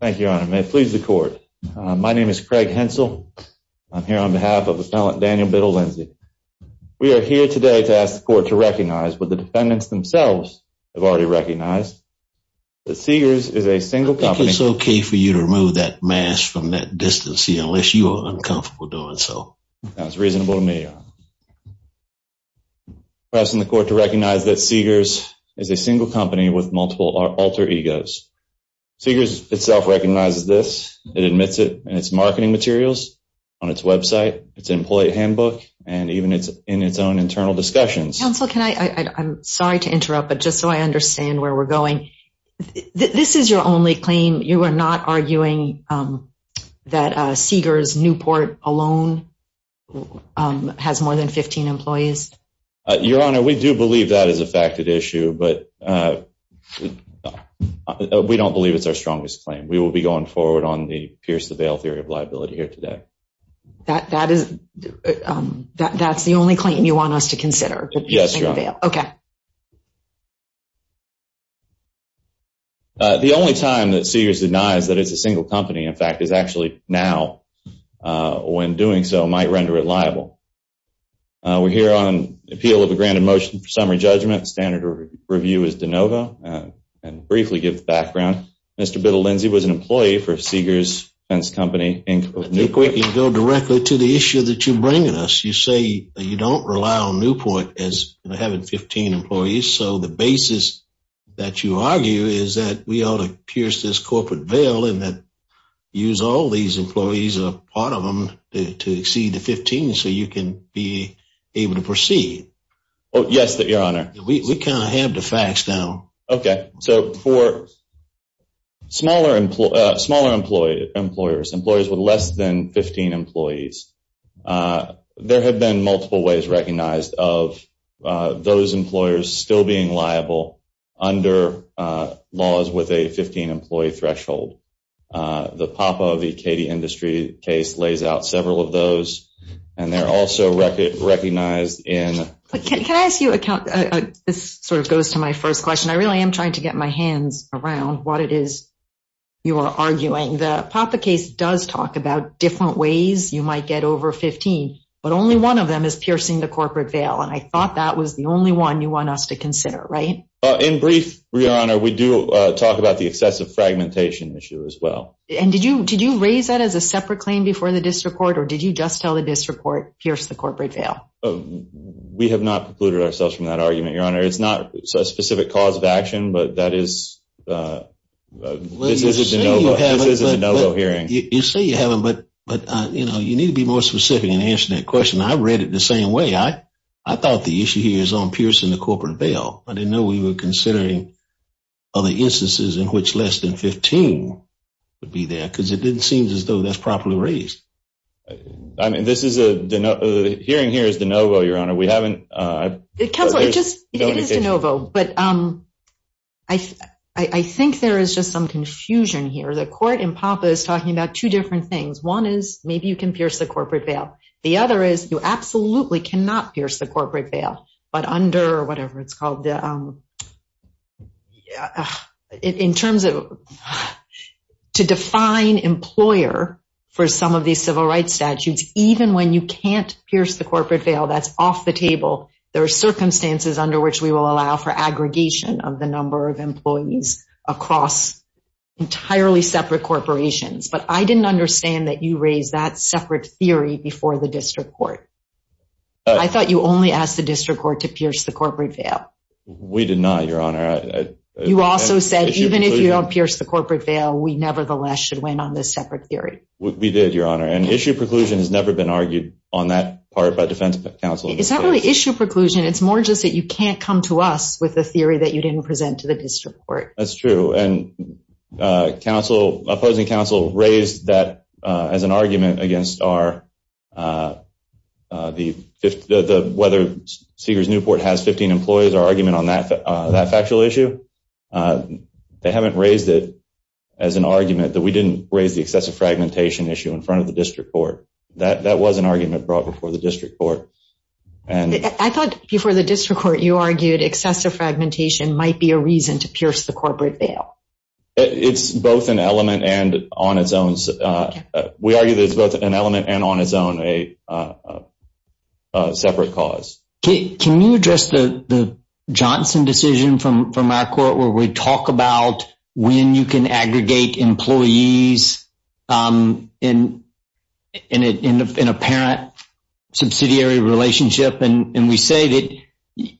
Thank you, Your Honor. May it please the Court. My name is Craig Hensel. I'm here on behalf of Appellant Daniel Bittle-Lindsey. We are here today to ask the Court to recognize, what the defendants themselves have already recognized, that Seegars is a single company- I think it's okay for you to remove that mask from that distance, unless you are uncomfortable doing so. That's reasonable to me, Your Honor. I'm asking the Court to recognize that Seegars is a single company with multiple alter egos. Seegars itself recognizes this. It admits it in its marketing materials, on its website, its employee handbook, and even in its own internal discussions. Counsel, I'm sorry to interrupt, but just so I understand where we're going. This is your only claim. You are not arguing that Seegars Newport alone has more than 15 employees? Your Honor, we do believe that is a facted issue, but we don't believe it's our strongest claim. We will be going forward on the Pierce the Veil theory of liability here today. That's the only claim you want us to consider? Yes, Your Honor. Okay. The only time that Seegars denies that it's a single company, in fact, is actually now. When doing so, it might render it liable. We're here on appeal of a granted motion for summary judgment. Standard review is de novo, and briefly give the background. Mr. Bittle-Lindsay was an employee for Seegars Fence Company. I think we can go directly to the issue that you're bringing us. You say that you don't rely on Newport as having 15 employees, so the basis that you argue is that we ought to pierce this corporate veil and that use all these employees, a part of them, to exceed the 15 so you can be able to proceed. Yes, Your Honor. We kind of have the facts now. Okay, so for smaller employers, employers with less than 15 employees, there have been multiple ways recognized of those under laws with a 15-employee threshold. The PAPA, the Katie Industry case, lays out several of those and they're also recognized in... Can I ask you, this sort of goes to my first question, I really am trying to get my hands around what it is you are arguing. The PAPA case does talk about different ways you might get over 15, but only one of them is piercing the corporate veil, and I thought that was the only one you want us to consider, right? In brief, Your Honor, we do talk about the excessive fragmentation issue as well. And did you raise that as a separate claim before the district court, or did you just tell the district court, pierce the corporate veil? We have not precluded ourselves from that argument, Your Honor. It's not a specific cause of action, but that is... This is a de novo hearing. You say you have them, but you need to be more I thought the issue here is on piercing the corporate veil. I didn't know we were considering other instances in which less than 15 would be there, because it didn't seem as though that's properly raised. I mean, this is a... The hearing here is de novo, Your Honor. We haven't... It comes... It is de novo, but I think there is just some confusion here. The court in PAPA is talking about two different things. One is, maybe you can pierce the corporate veil. The other is, you absolutely cannot pierce the corporate veil, but under whatever it's called... In terms of... To define employer for some of these civil rights statutes, even when you can't pierce the corporate veil, that's off the table. There are circumstances under which we will allow for aggregation of the number of employees across entirely separate corporations. But I didn't understand that you raised that separate theory before the district court. I thought you only asked the district court to pierce the corporate veil. We did not, Your Honor. You also said, even if you don't pierce the corporate veil, we nevertheless should win on this separate theory. We did, Your Honor. And issue preclusion has never been argued on that part by defense counsel. It's not really issue preclusion. It's more just that you can't come to us with a theory that you as an argument against whether Sears Newport has 15 employees or argument on that factual issue. They haven't raised it as an argument that we didn't raise the excessive fragmentation issue in front of the district court. That was an argument brought before the district court. I thought before the district court you argued excessive fragmentation might be a reason to pierce the corporate veil. It's both an element and on its own. We argue that it's both an element and on its own a separate cause. Can you address the Johnson decision from our court where we talk about when you can aggregate employees in a parent subsidiary relationship? And we say that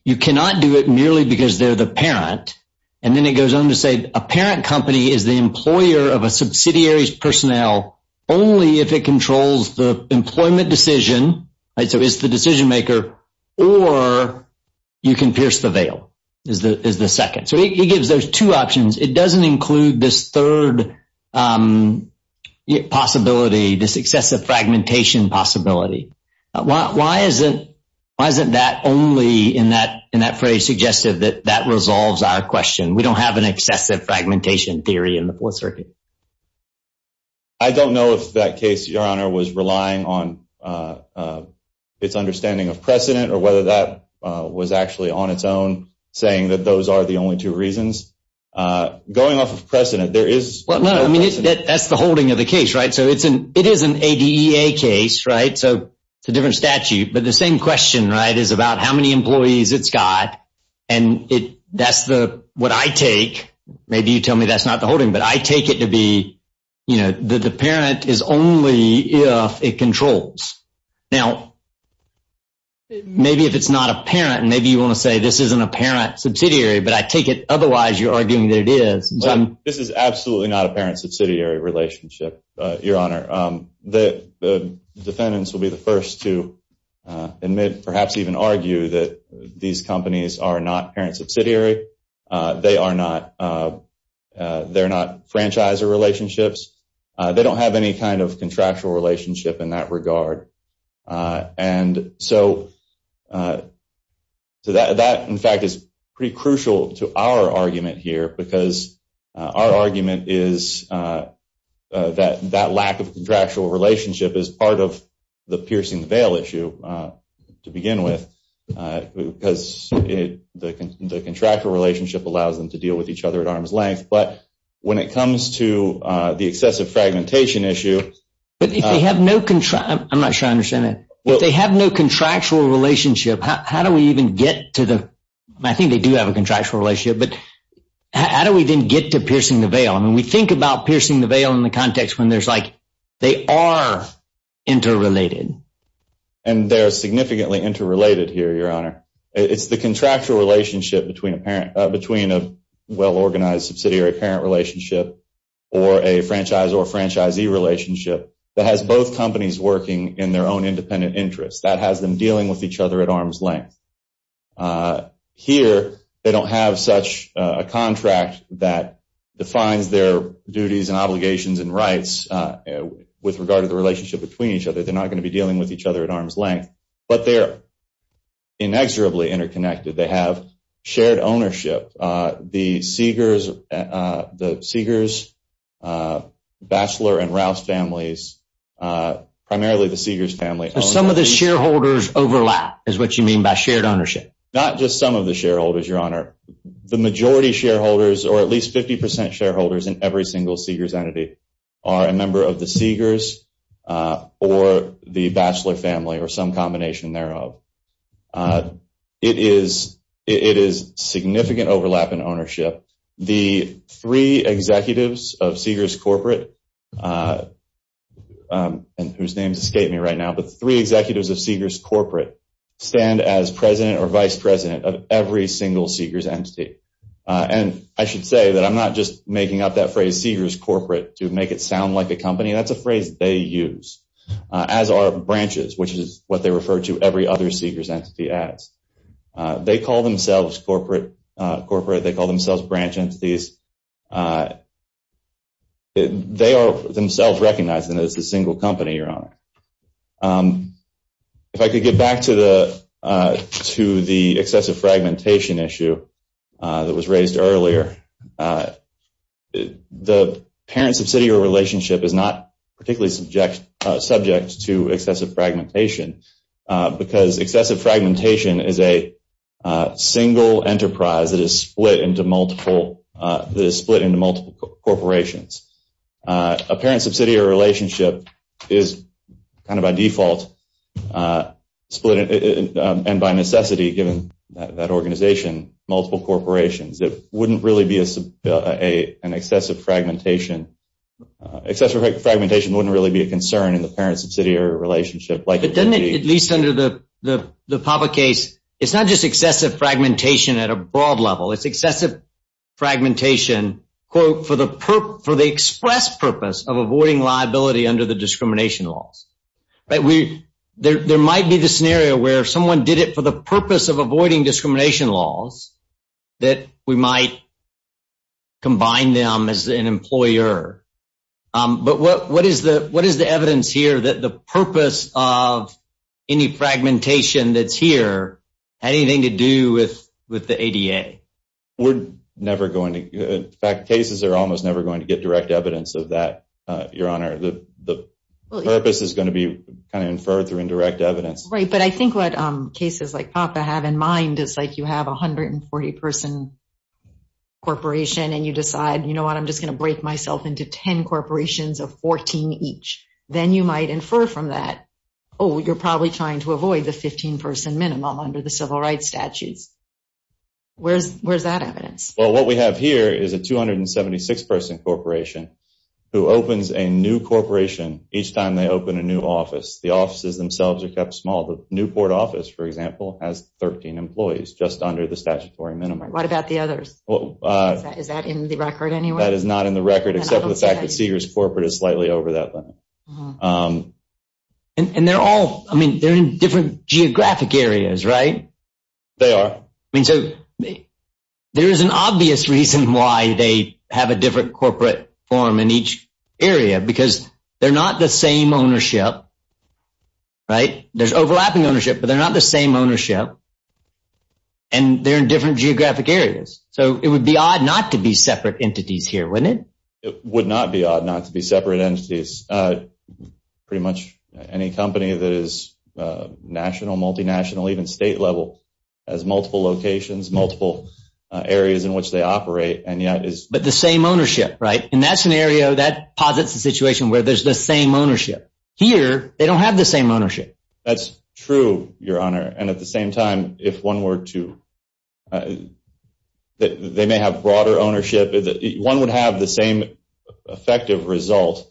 you cannot do it merely because they're the parent. And then it goes on to say a parent company is the employer of a subsidiary's personnel only if it controls the employment decision, so it's the decision maker, or you can pierce the veil is the second. So it gives those two options. It doesn't include this third possibility, this excessive fragmentation possibility. Why isn't that only in that phrase suggestive that that resolves our question? We don't have an excessive fragmentation theory in the Fourth Circuit. I don't know if that case, Your Honor, was relying on its understanding of precedent or whether that was actually on its own saying that those are the only two reasons. Going off of precedent, there is... No, I mean, that's the ADEA case, right? So it's a different statute, but the same question, right, is about how many employees it's got, and that's what I take. Maybe you tell me that's not the holding, but I take it to be that the parent is only if it controls. Now, maybe if it's not a parent, maybe you want to say this isn't a parent subsidiary, but I take it otherwise you're arguing that it is. This is absolutely not a parent subsidiary relationship, Your Honor. The defendants will be the first to admit, perhaps even argue, that these companies are not parent subsidiary. They're not franchisor relationships. They don't have any kind of contractual relationship in that Our argument is that that lack of contractual relationship is part of the piercing the veil issue to begin with because the contractual relationship allows them to deal with each other at arm's length, but when it comes to the excessive fragmentation issue... But if they have no contractual relationship, how do we even get to the... I think they do contractual relationship, but how do we then get to piercing the veil? I mean, we think about piercing the veil in the context when there's like they are interrelated. And they're significantly interrelated here, Your Honor. It's the contractual relationship between a well-organized subsidiary parent relationship or a franchisor franchisee relationship that has both companies working in their own independent interests. That has them dealing with each other at arm's length. Here, they don't have such a contract that defines their duties and obligations and rights with regard to the relationship between each other. They're not going to be dealing with each other at arm's length, but they're inexorably interconnected. They have shared ownership. The Seegers, the Seegers, Batchelor and Rouse families, primarily the Seegers family... Some of the shareholders overlap is what you mean by shared ownership. Not just some of the shareholders, Your Honor. The majority shareholders or at least 50% shareholders in every single Seegers entity are a member of the Seegers or the Batchelor family or combination thereof. It is significant overlap in ownership. The three executives of Seegers corporate, whose names escape me right now, but three executives of Seegers corporate stand as president or vice president of every single Seegers entity. And I should say that I'm not just making up that phrase Seegers corporate to make it sound like a company. That's a phrase they use as our branches, which is what they refer to every other Seegers entity as. They call themselves corporate. They call themselves branch entities. They are themselves recognized as a single company, Your Honor. If I could get back to the excessive fragmentation issue that was raised earlier, the parent-subsidiary relationship is not particularly subject to excessive fragmentation because excessive fragmentation is a single enterprise that is split into multiple corporations. A parent-subsidiary relationship is kind of by default split and by necessity, given that organization, multiple corporations. It wouldn't really be an excessive fragmentation. Excessive fragmentation wouldn't really be a concern in the parent-subsidiary relationship. Doesn't it, at least under the Papa case, it's not just excessive fragmentation at a broad level. It's excessive fragmentation, quote, for the express purpose of avoiding liability under the avoiding discrimination laws that we might combine them as an employer. But what is the evidence here that the purpose of any fragmentation that's here had anything to do with the ADA? We're never going to, in fact, cases are almost never going to get direct evidence of that, Your Honor. The purpose is going to be kind of inferred through indirect evidence. Right, but I think what cases like Papa have in mind is like you have 140 person corporation and you decide, you know what, I'm just going to break myself into 10 corporations of 14 each. Then you might infer from that, oh, you're probably trying to avoid the 15 person minimum under the civil rights statutes. Where's that evidence? Well, what we have here is a 276 person corporation who opens a new corporation each time they open a new office. The offices themselves are kept small. The Newport office, for example, has 13 employees just under the statutory minimum. What about the others? Is that in the record anyway? That is not in the record except for the fact that Sears corporate is slightly over that limit. And they're all, I mean, they're in different geographic areas, right? They are. I mean, so there is an obvious reason why they have a different corporate form in each area because they're not the same ownership right? There's overlapping ownership but they're not the same ownership and they're in different geographic areas. So it would be odd not to be separate entities here, wouldn't it? It would not be odd not to be separate entities. Pretty much any company that is national, multinational, even state level has multiple locations, multiple areas in which they operate and yet is. But the same ownership, right? In that scenario, that posits a situation where there's the same ownership. Here, they don't have the same ownership. That's true, your honor. And at the same time, if one were to, they may have broader ownership. One would have the same effective result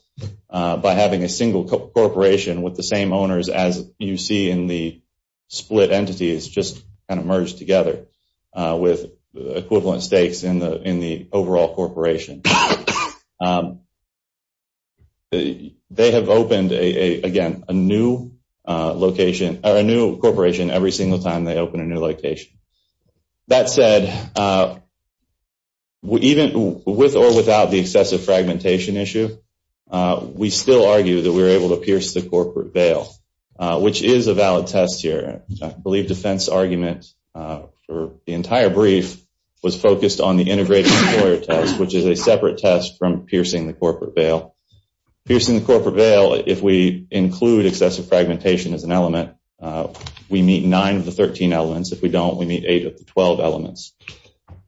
by having a single corporation with the same owners as you see in the split entities just kind of merged together with equivalent stakes in the overall corporation. They have opened, again, a new corporation every single time they open a new location. That said, with or without the excessive fragmentation issue, we still argue that we were able to pierce the corporate veil, which is a valid test here. I believe defense argument for the entire brief was focused on the integrated employer test, which is a separate test from the corporate veil. If we include excessive fragmentation as an element, we meet nine of the 13 elements. If we don't, we meet eight of the 12 elements.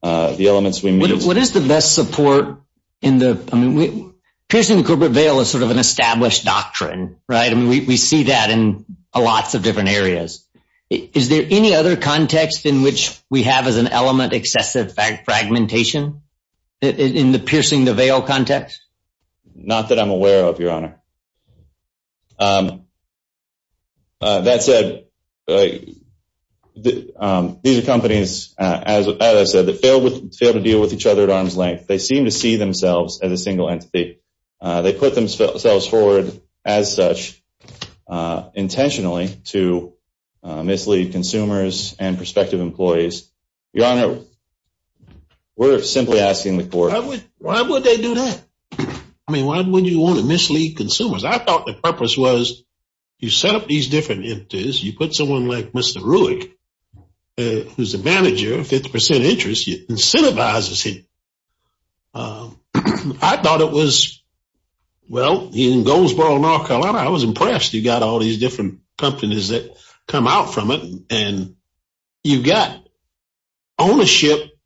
The elements we meet... What is the best support in the, I mean, piercing the corporate veil is sort of an established doctrine, right? And we see that in lots of different areas. Is there any other context in which we have as an element excessive fragmentation in the piercing the veil context? Not that I'm aware of, Your Honor. That said, these are companies, as I said, that fail to deal with each other at arm's length. They seem to see themselves as a single entity. They put themselves forward as such intentionally to mislead consumers and prospective employees. Your Honor, we're simply asking the court... Why would they do that? I mean, why would you want to mislead consumers? I thought the purpose was you set up these different entities. You put someone like Mr. Rueck, who's a manager of 50% interest, incentivizes him. I thought it was, well, in Goldsboro, North Carolina, I was impressed. You got all these different ownership,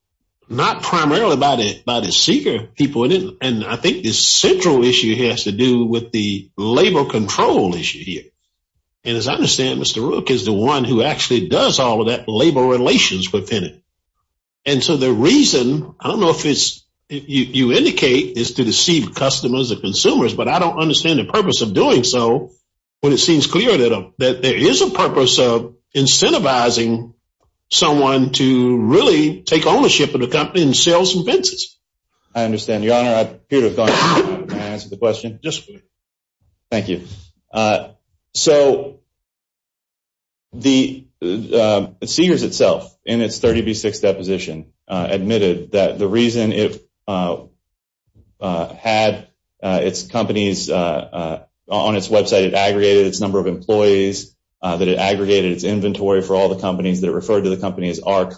not primarily by the seeker people. And I think the central issue has to do with the labor control issue here. And as I understand, Mr. Rueck is the one who actually does all of that labor relations within it. And so the reason, I don't know if you indicate, is to deceive customers or consumers, but I don't understand the purpose of doing so when it seems clear that there is a to really take ownership of the company and sell some fences. I understand, Your Honor. Thank you. So, the Seegers itself, in its 30B6 deposition, admitted that the reason it had its companies on its website, it aggregated its number of employees, that it aggregated its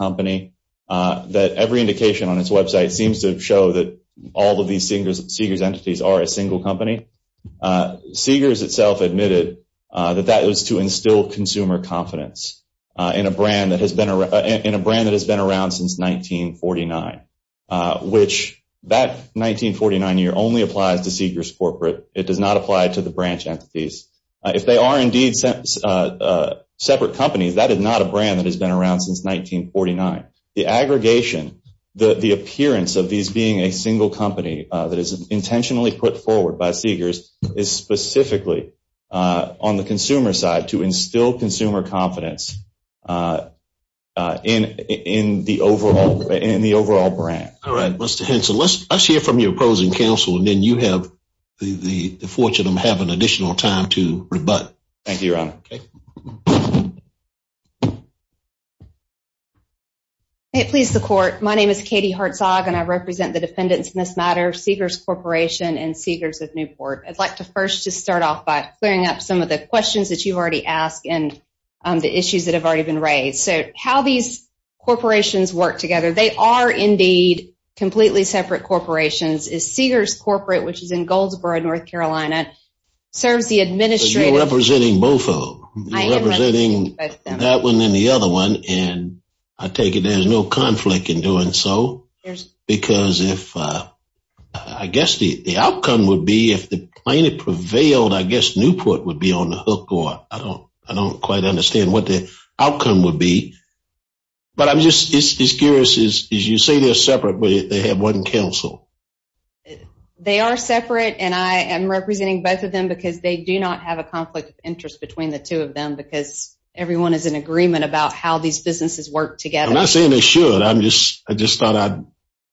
company, that every indication on its website seems to show that all of these Seegers entities are a single company. Seegers itself admitted that that was to instill consumer confidence in a brand that has been around since 1949, which that 1949 year only applies to Seegers corporate. It does not apply to the branch entities. If they are indeed separate companies, that is not a brand that has been around since 1949. The aggregation, the appearance of these being a single company that is intentionally put forward by Seegers is specifically on the consumer side to instill consumer confidence in the overall brand. All right, Mr. Henson, let's hear from your opposing counsel, and then you have the fortune of having additional time to rebut. Thank you, Mr. Henson. May it please the court, my name is Katie Hartzog, and I represent the defendants in this matter, Seegers Corporation and Seegers of Newport. I'd like to first just start off by clearing up some of the questions that you've already asked and the issues that have already been raised. So, how these corporations work together, they are indeed completely separate corporations, is Seegers Corporate, which is in Goldsboro, North Carolina, serves the administrative... That one and the other one, and I take it there's no conflict in doing so, because if, I guess the outcome would be if the plaintiff prevailed, I guess Newport would be on the hook, or I don't quite understand what the outcome would be. But I'm just as curious as you say they're separate, but they have one counsel. They are separate, and I am representing both of them because they do not have a conflict of interest between the two of them, because everyone is in agreement about how these businesses work together. I'm not saying they should, I'm just, I just thought I'd,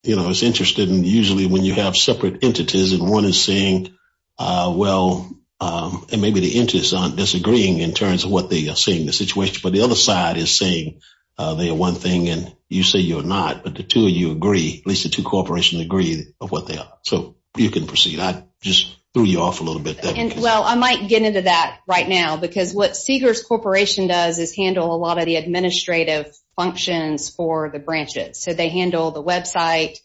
you know, I was interested in usually when you have separate entities and one is saying, well, and maybe the interests aren't disagreeing in terms of what they are seeing the situation, but the other side is saying they are one thing and you say you're not, but the two of you agree, at least the two corporations agree of what they are. So, you can proceed. I just threw you off a little bit there. Well, I might get into that right now, because what Seegers Corporation does is handle a lot of the administrative functions for the branches. So, they handle the website,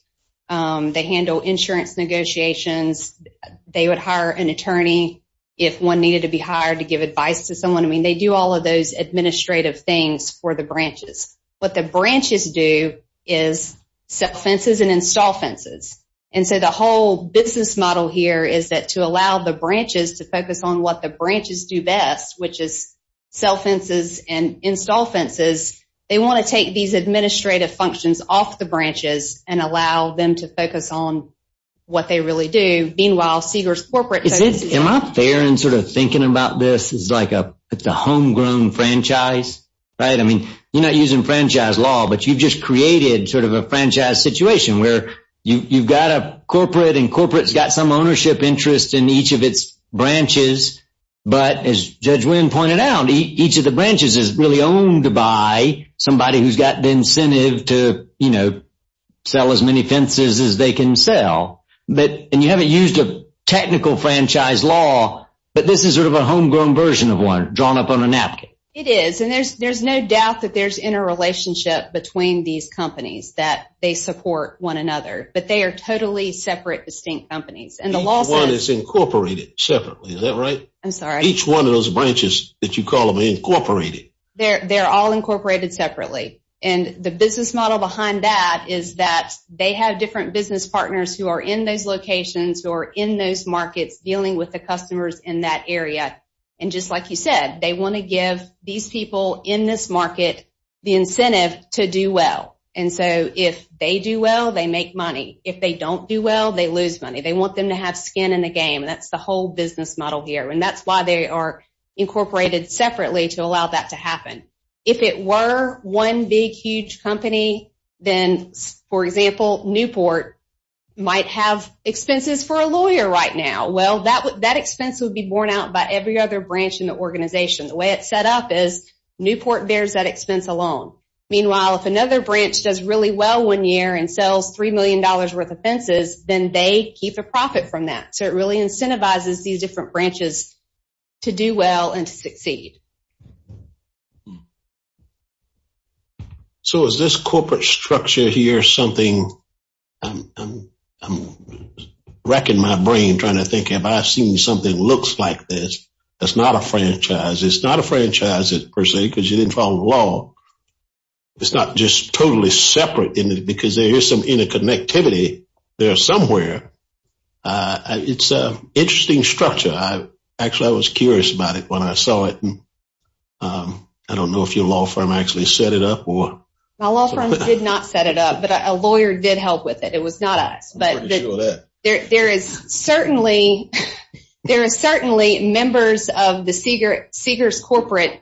they handle insurance negotiations, they would hire an attorney if one needed to be hired to give advice to someone. I mean, they do all of those administrative things for the branches. What the branches do is set fences and install fences. And so, the whole business model here is that to allow the branches to focus on what the branches do best, which is sell fences and install fences, they want to take these administrative functions off the branches and allow them to focus on what they really do. Meanwhile, Seegers Corporate... Am I fair in sort of thinking about this as like a, it's a homegrown franchise, right? I mean, you're not using franchise law, but you've just created sort of a franchise situation where you've got a corporate and corporate's got some ownership interest in each of its branches. But as Judge Wynn pointed out, each of the branches is really owned by somebody who's got the incentive to, you know, sell as many fences as they can sell. But, and you haven't used a technical franchise law, but this is sort of a homegrown version of one drawn up on a napkin. It is. And there's no doubt that there's interrelationship between these companies that they support one another, but they are totally separate distinct companies. Each one is incorporated separately. Is that right? I'm sorry. Each one of those branches that you call them incorporated. They're all incorporated separately. And the business model behind that is that they have different business partners who are in those locations or in those markets dealing with the customers in that area. And just like you said, they want to give these people in this market the incentive to do well. And so if they do well, they make money. If they don't do well, they lose money. They want them to have skin in the game. And that's the whole business model here. And that's why they are incorporated separately to allow that to happen. If it were one big, huge company, then, for example, Newport might have expenses for a lawyer right now. Well, that expense would be borne out by every other branch in the organization. The way it's set up is Newport bears that expense alone. Meanwhile, if another branch does really well one year and sells $3 million worth of fences, then they keep a profit from that. So it really incentivizes these different branches to do well and to succeed. So is this corporate structure here something? I'm wrecking my brain trying to think if I've seen something looks like this. That's not a franchise. It's not a franchise per se because you didn't follow the law. It's not just totally separate because there is some interconnectivity there somewhere. It's an interesting structure. Actually, I was curious about it when I saw it. I don't know if your law firm actually set it up. My law firm did not set it up, but a lawyer did help with it. It was not us. There are certainly members of the Seegers corporate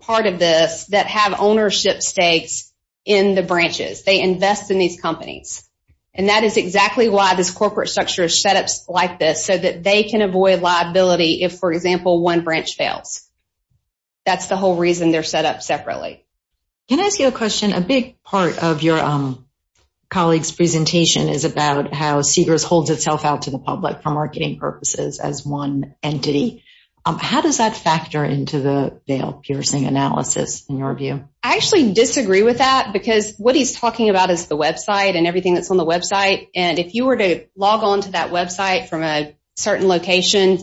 part of this that have ownership stakes in the branches. They invest in these companies, and that is exactly why this corporate structure is set up like this so that they can avoid liability if, for example, one branch fails. That's the whole reason they're set up separately. Can I ask you a question? A big part of your colleague's presentation is about how Seegers holds itself out to the public for marketing purposes as one entity. How does that factor into the bail piercing analysis in your view? I actually disagree with that because what he's talking about is the website and everything that's on the website. If you were to log on to that website from a certain location,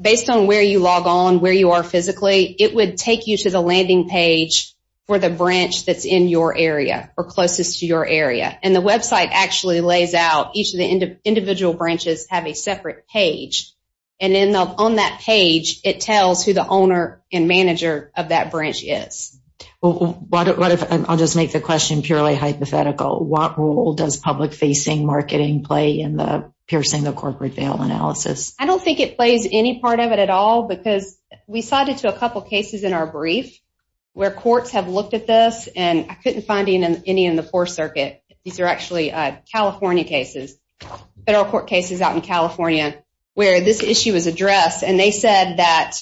based on where you log on, where you are physically, it would take you to the landing page for the branch that's in your area or closest to your area. The website actually lays out each of the individual branches have a separate page. On that page, it tells who owner and manager of that branch is. I'll just make the question purely hypothetical. What role does public-facing marketing play in the piercing the corporate bail analysis? I don't think it plays any part of it at all because we cited to a couple cases in our brief where courts have looked at this, and I couldn't find any in the Fourth Circuit. These are actually California cases, federal court cases out in California where this issue was addressed, and they said that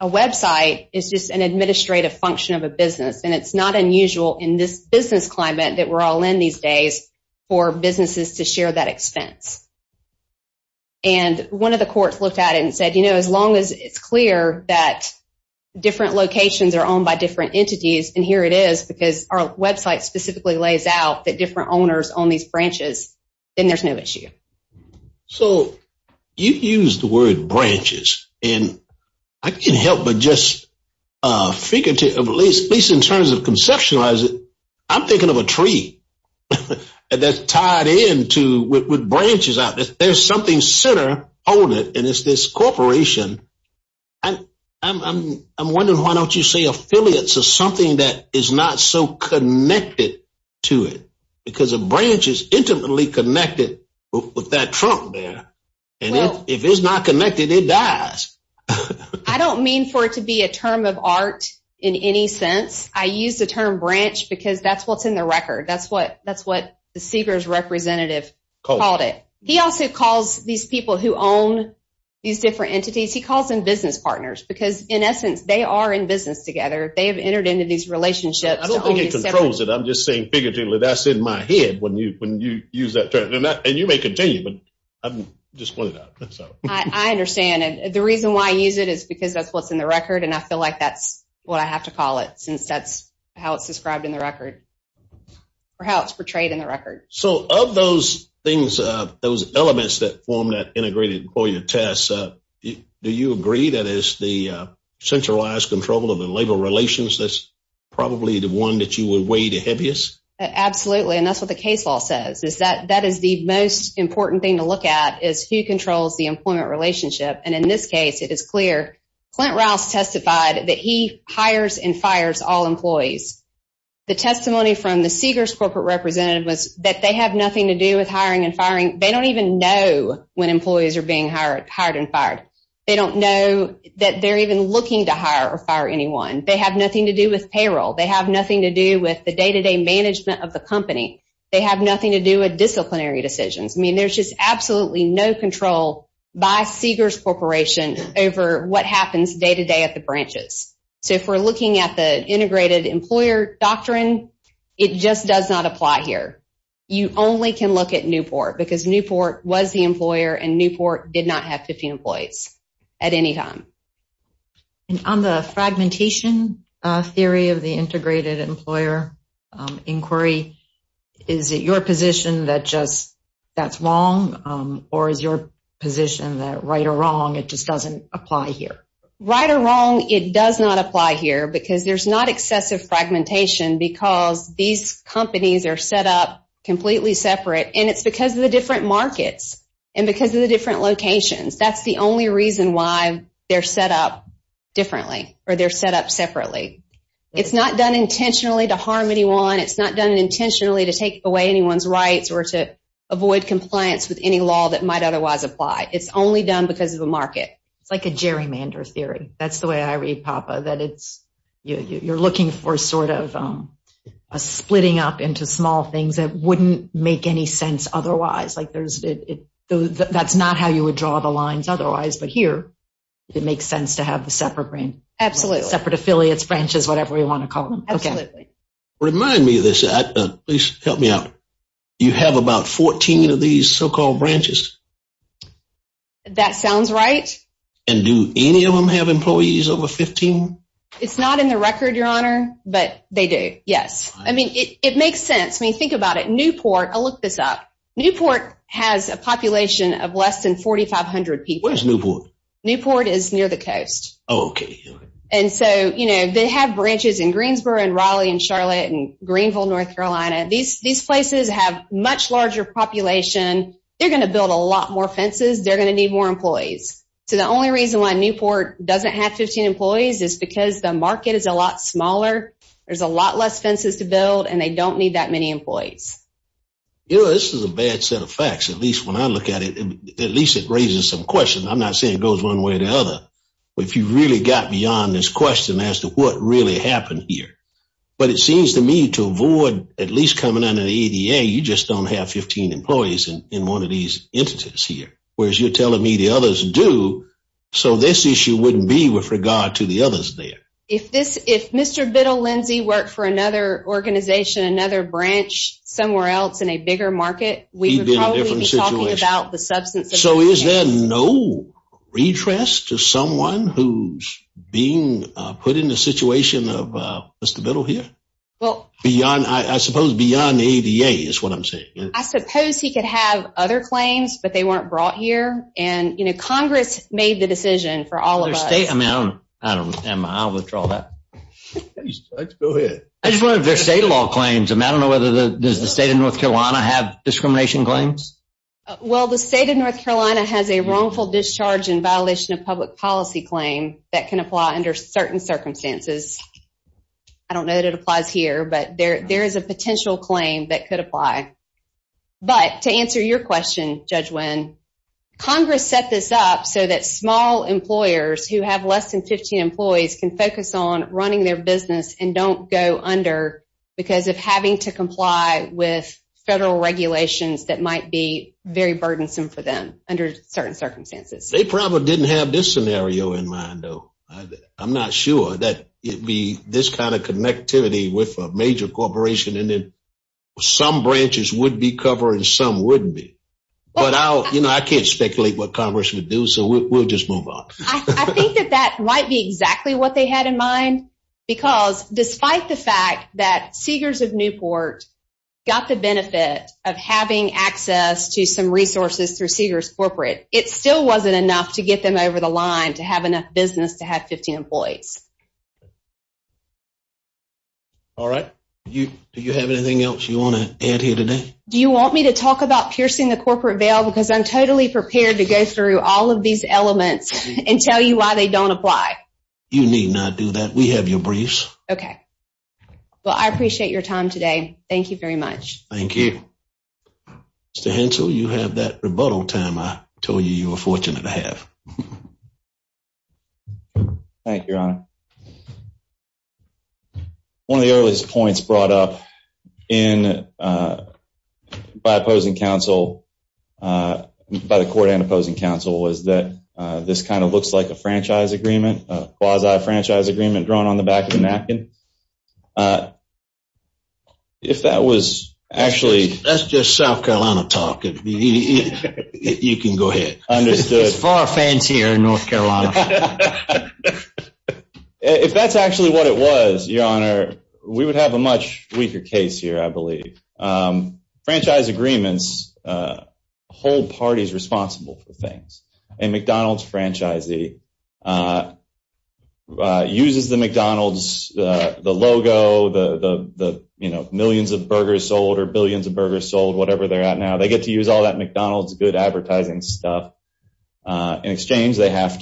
a website is just an administrative function of a business, and it's not unusual in this business climate that we're all in these days for businesses to share that expense. One of the courts looked at it and said, as long as it's clear that different locations are owned by different entities, and here it is because our website specifically lays out that different branches. I'm thinking of a tree that's tied in with branches out. There's something center on it, and it's this corporation. I'm wondering why don't you say affiliates are something that is not so connected to it because a branch is intimately connected with that trunk there, and if it's not connected, it dies. I don't mean for it to be a term of art in any sense. I use the term branch because that's what's in the record. That's what the Seegers representative called it. He also calls these people who own these different entities. He calls them business partners because, in essence, they are in business together. They have entered into these relationships. I don't think he controls it. I'm just saying figuratively that's in my head when you use that term. You may continue, but I just wanted to add that. I understand. The reason why I use it is because that's what's in the record, and I feel like that's what I have to call it since that's how it's described in the record or how it's portrayed in the record. Of those things, those elements that form that integrated employer test, do you agree that it's the centralized control of the labor relations that's probably the one that you would weigh the heaviest? Absolutely, and that's what the case law says is that that is the most important thing to look at is who controls the employment relationship. In this case, it is clear. Clint Rouse testified that he hires and fires all employees. The testimony from the Seegers corporate representative was that they have nothing to do with hiring and firing. They don't even know when employees are being hired and fired. They don't know that they're even looking to hire or fire anyone. They have nothing to do with payroll. They have nothing to do with the day-to-day management of the company. They have nothing to do with disciplinary decisions. I mean, there's just absolutely no control by Seegers Corporation over what happens day-to-day at the branches. So if we're looking at the integrated employer doctrine, it just does not apply here. You only can look at Newport because Newport was the largest company in the country at any time. And on the fragmentation theory of the integrated employer inquiry, is it your position that just that's wrong or is your position that right or wrong it just doesn't apply here? Right or wrong, it does not apply here because there's not excessive fragmentation because these companies are set up completely separate and it's because of the different markets and because of the different locations. That's the only reason why they're set up differently or they're set up separately. It's not done intentionally to harm anyone. It's not done intentionally to take away anyone's rights or to avoid compliance with any law that might otherwise apply. It's only done because of the market. It's like a gerrymander theory. That's the way I read, Papa, that it's you're looking for sort of a splitting up into small things that wouldn't make any sense otherwise. That's not how you would draw the lines otherwise, but here it makes sense to have the separate branch. Separate affiliates, branches, whatever you want to call them. Absolutely. Remind me of this, please help me out. You have about 14 of these so-called branches? That sounds right. And do any of them have employees over 15? It's not in the record, Your Honor, but they do. Yes. I mean, it makes sense. I mean, think about it. Newport, I'll look this up. Newport has a population of less than 4,500 people. Where's Newport? Newport is near the coast. Oh, okay. And so, you know, they have branches in Greensboro and Raleigh and Charlotte and Greenville, North Carolina. These places have a much larger population. They're going to build a lot more fences. They're going to need more employees. So the only reason why Newport doesn't have 15 employees is because the market is a lot smaller, there's a lot less fences to build, and they don't need that many employees. You know, this is a bad set of facts. At least when I look at it, at least it raises some questions. I'm not saying it goes one way or the other. If you really got beyond this question as to what really happened here. But it seems to me to avoid at least coming under the ADA, you just don't have 15 employees in one of these entities here. Whereas you're telling me the others do. So this issue wouldn't be with regard to the others there. If Mr. Biddle, Lindsey worked for another organization, another branch somewhere else in a bigger market, we would probably be talking about the substance of the case. So is there no redress to someone who's being put in the situation of Mr. Biddle here? Well, beyond, I suppose beyond the ADA is what I'm saying. I suppose he could have other claims, but they weren't brought here. And you know, Congress made the decision for all of us. I don't know, I'll withdraw that. Go ahead. I just wonder if there's state law claims. I don't know whether the state of North Carolina have discrimination claims. Well, the state of North Carolina has a wrongful discharge in violation of public policy claim that can apply under certain circumstances. I don't know that it applies here, but there is a potential claim that could apply. But to answer your question, Judge Wynn, Congress set this up so that small employers who have less than 15 employees can focus on running their business and don't go under because of having to comply with federal regulations that might be very burdensome for them under certain circumstances. They probably didn't have this scenario in mind, though. I'm not sure that it'd be this kind of connectivity with a major corporation. And then some branches would be covering, some wouldn't be. But I'll, you know, I can't speculate what Congress would do. So we'll just move on. I think that that might be exactly what they had in mind. Because despite the fact that Seegers of Newport got the benefit of having access to some resources through Seegers Corporate, it still wasn't enough to get them over the line to have enough business to have 15 employees. All right. Do you have anything else you want to add here today? Do you want me to talk about piercing the corporate veil? Because I'm totally prepared to go through all of these elements and tell you why they don't apply. You need not do that. We have your briefs. Okay. Well, I appreciate your time today. Thank you very much. Thank you. Mr. Hensel, you have that rebuttal time I told you you were fortunate to have. Thank you, Your Honor. One of the earliest points brought up in, by opposing counsel, by the court and opposing counsel, was that this kind of looks like a franchise agreement, a quasi-franchise agreement drawn on the back of a napkin. If that was actually... That's just South Carolina talk. You can go ahead. Understood. It's far fancier in North Carolina. If that's actually what it was, Your Honor, we would have a much weaker case here, I believe. Franchise agreements hold parties responsible for things. A McDonald's franchisee that uses the McDonald's, the logo, the millions of burgers sold or billions of burgers sold, whatever they're at now, they get to use all that McDonald's good advertising stuff. In exchange, they have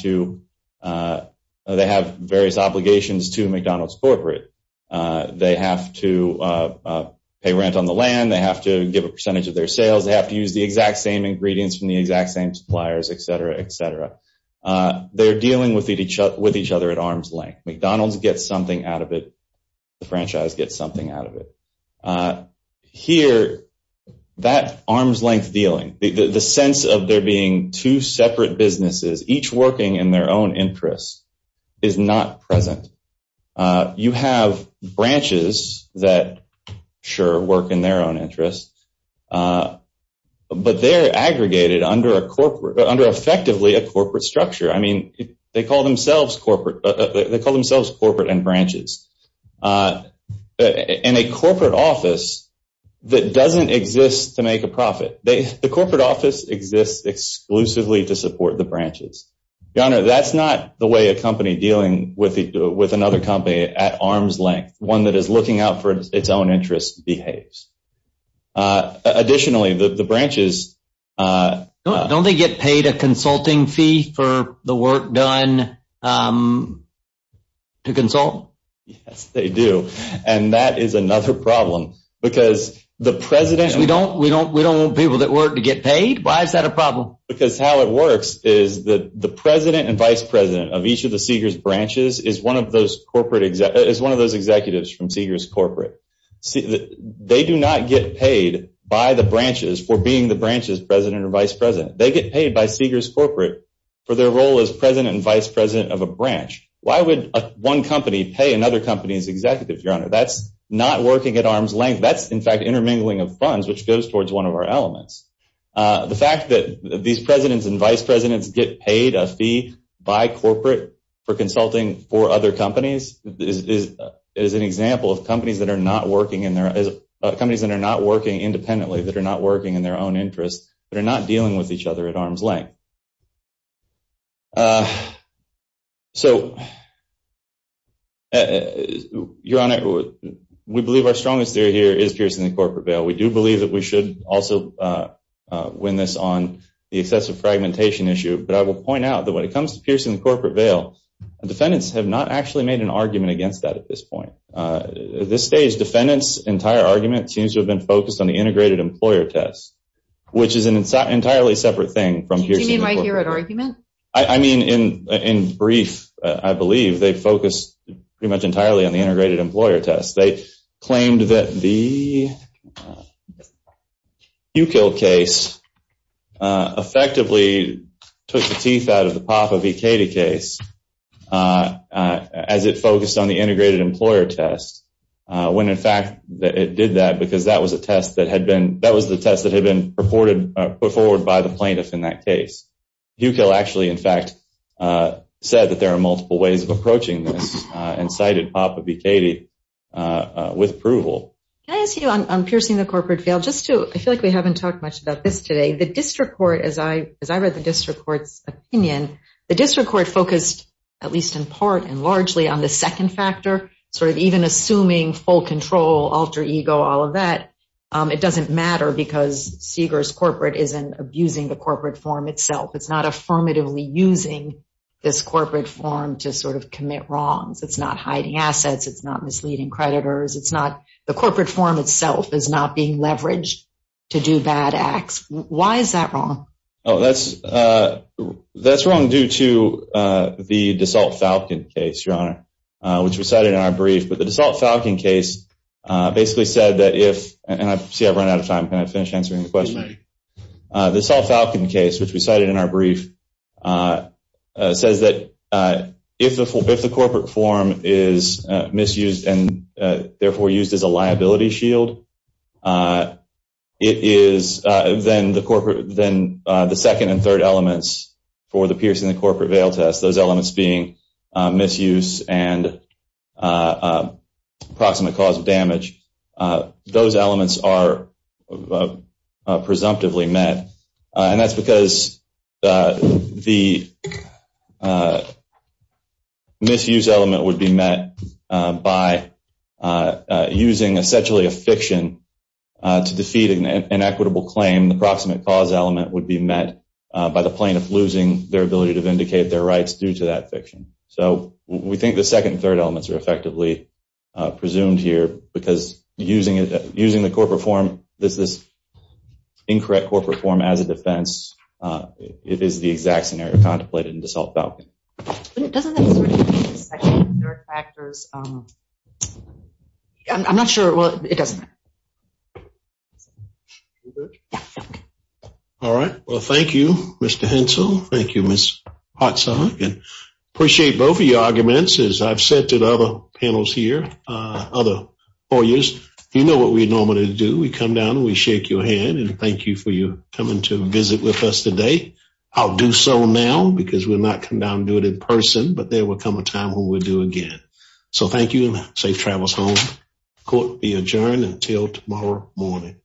various obligations to McDonald's corporate. They have to pay rent on the land. They have to give a percentage of their sales. They have to use the exact same ingredients from the exact same suppliers, etc., etc. They're dealing with each other at arm's length. McDonald's gets something out of it. The franchise gets something out of it. Here, that arm's length dealing, the sense of there being two separate businesses, each working in their own interests, is not present. You have branches that, sure, work in their own interests, but they're aggregated under, effectively, a corporate structure. They call themselves corporate and branches. In a corporate office that doesn't exist to make a profit, the corporate office exists exclusively to support the branches. Your Honor, that's not the way a company dealing with another company at arm's length, one that is looking out for its own interests, behaves. Additionally, the branches... Don't they get paid a consulting fee for the work done to consult? Yes, they do. That is another problem because the president... We don't want people that work to get paid? Why is that a problem? Because how it works is that the president and vice president of each of the Seeger's branches is one of those executives from Seeger's corporate. They do not get paid by the branches for being the branches president or vice president. They get paid by Seeger's corporate for their role as president and vice president of a branch. Why would one company pay another company's executive, Your Honor? That's not working at arm's length. That's, in fact, intermingling of funds, which goes towards one of our elements. The fact that these presidents and vice presidents get paid a fee by corporate for consulting for other companies is an example of companies that are not working independently, that are not working in their own interests, that are not dealing with each other at arm's length. So, Your Honor, we believe our strongest theory here is piercing the corporate veil. We do believe that we should also win this on the excessive fragmentation issue, but I will point out that when it comes to piercing the corporate veil, defendants have not actually made an argument against that at this point. At this stage, defendants' entire argument seems to have been focused on the integrated employer test, which is an entirely separate thing from... Do you mean my Hewitt argument? I mean, in brief, I believe they focused pretty much entirely on the integrated employer test. They claimed that the Hewkill case effectively took the teeth out of the Papa V. Katie case as it focused on the integrated employer test, when, in fact, it did that because that was the test that had been put forward by the plaintiff in that case. Hewkill actually, in fact, said that multiple ways of approaching this and cited Papa V. Katie with approval. Can I ask you on piercing the corporate veil? I feel like we haven't talked much about this today. The district court, as I read the district court's opinion, the district court focused, at least in part and largely on the second factor, sort of even assuming full control, alter ego, all of that. It doesn't matter because Seeger's corporate isn't abusing the corporate form itself. It's not affirmatively using this corporate form to sort of commit wrongs. It's not hiding assets. It's not misleading creditors. It's not... The corporate form itself is not being leveraged to do bad acts. Why is that wrong? Oh, that's wrong due to the DeSalt Falcon case, Your Honor, which we cited in our brief. But the DeSalt Falcon case basically said that if... And I see I've run out of time. Can I finish answering the question? You may. The DeSalt Falcon case, which we cited in our brief, says that if the corporate form is misused and therefore used as a liability shield, it is then the corporate... Then the second and third elements for the piercing the corporate veil test, those elements being misuse and approximate cause damage, those elements are presumptively met. And that's because the misuse element would be met by using essentially a fiction to defeat an equitable claim. The approximate cause element would be met by the plaintiff losing their ability to vindicate their rights due to that fiction. So we think the second and third elements are effectively presumed here because using the corporate form, this incorrect corporate form as a defense, it is the exact scenario contemplated in DeSalt Falcon. But it doesn't have certain factors. I'm not sure. Well, it doesn't. All right. Well, thank you, Mr. Hensel. Thank you, Ms. Hotsak. And appreciate both of your arguments. As I've said to the other panels here, other lawyers, you know what we normally do. We come down and we shake your hand and thank you for you coming to visit with us today. I'll do so now because we'll not come down and do it in person, but there will come a time when we'll do it again. So thank you and safe travels home. Court will be adjourned until tomorrow morning. Thank you.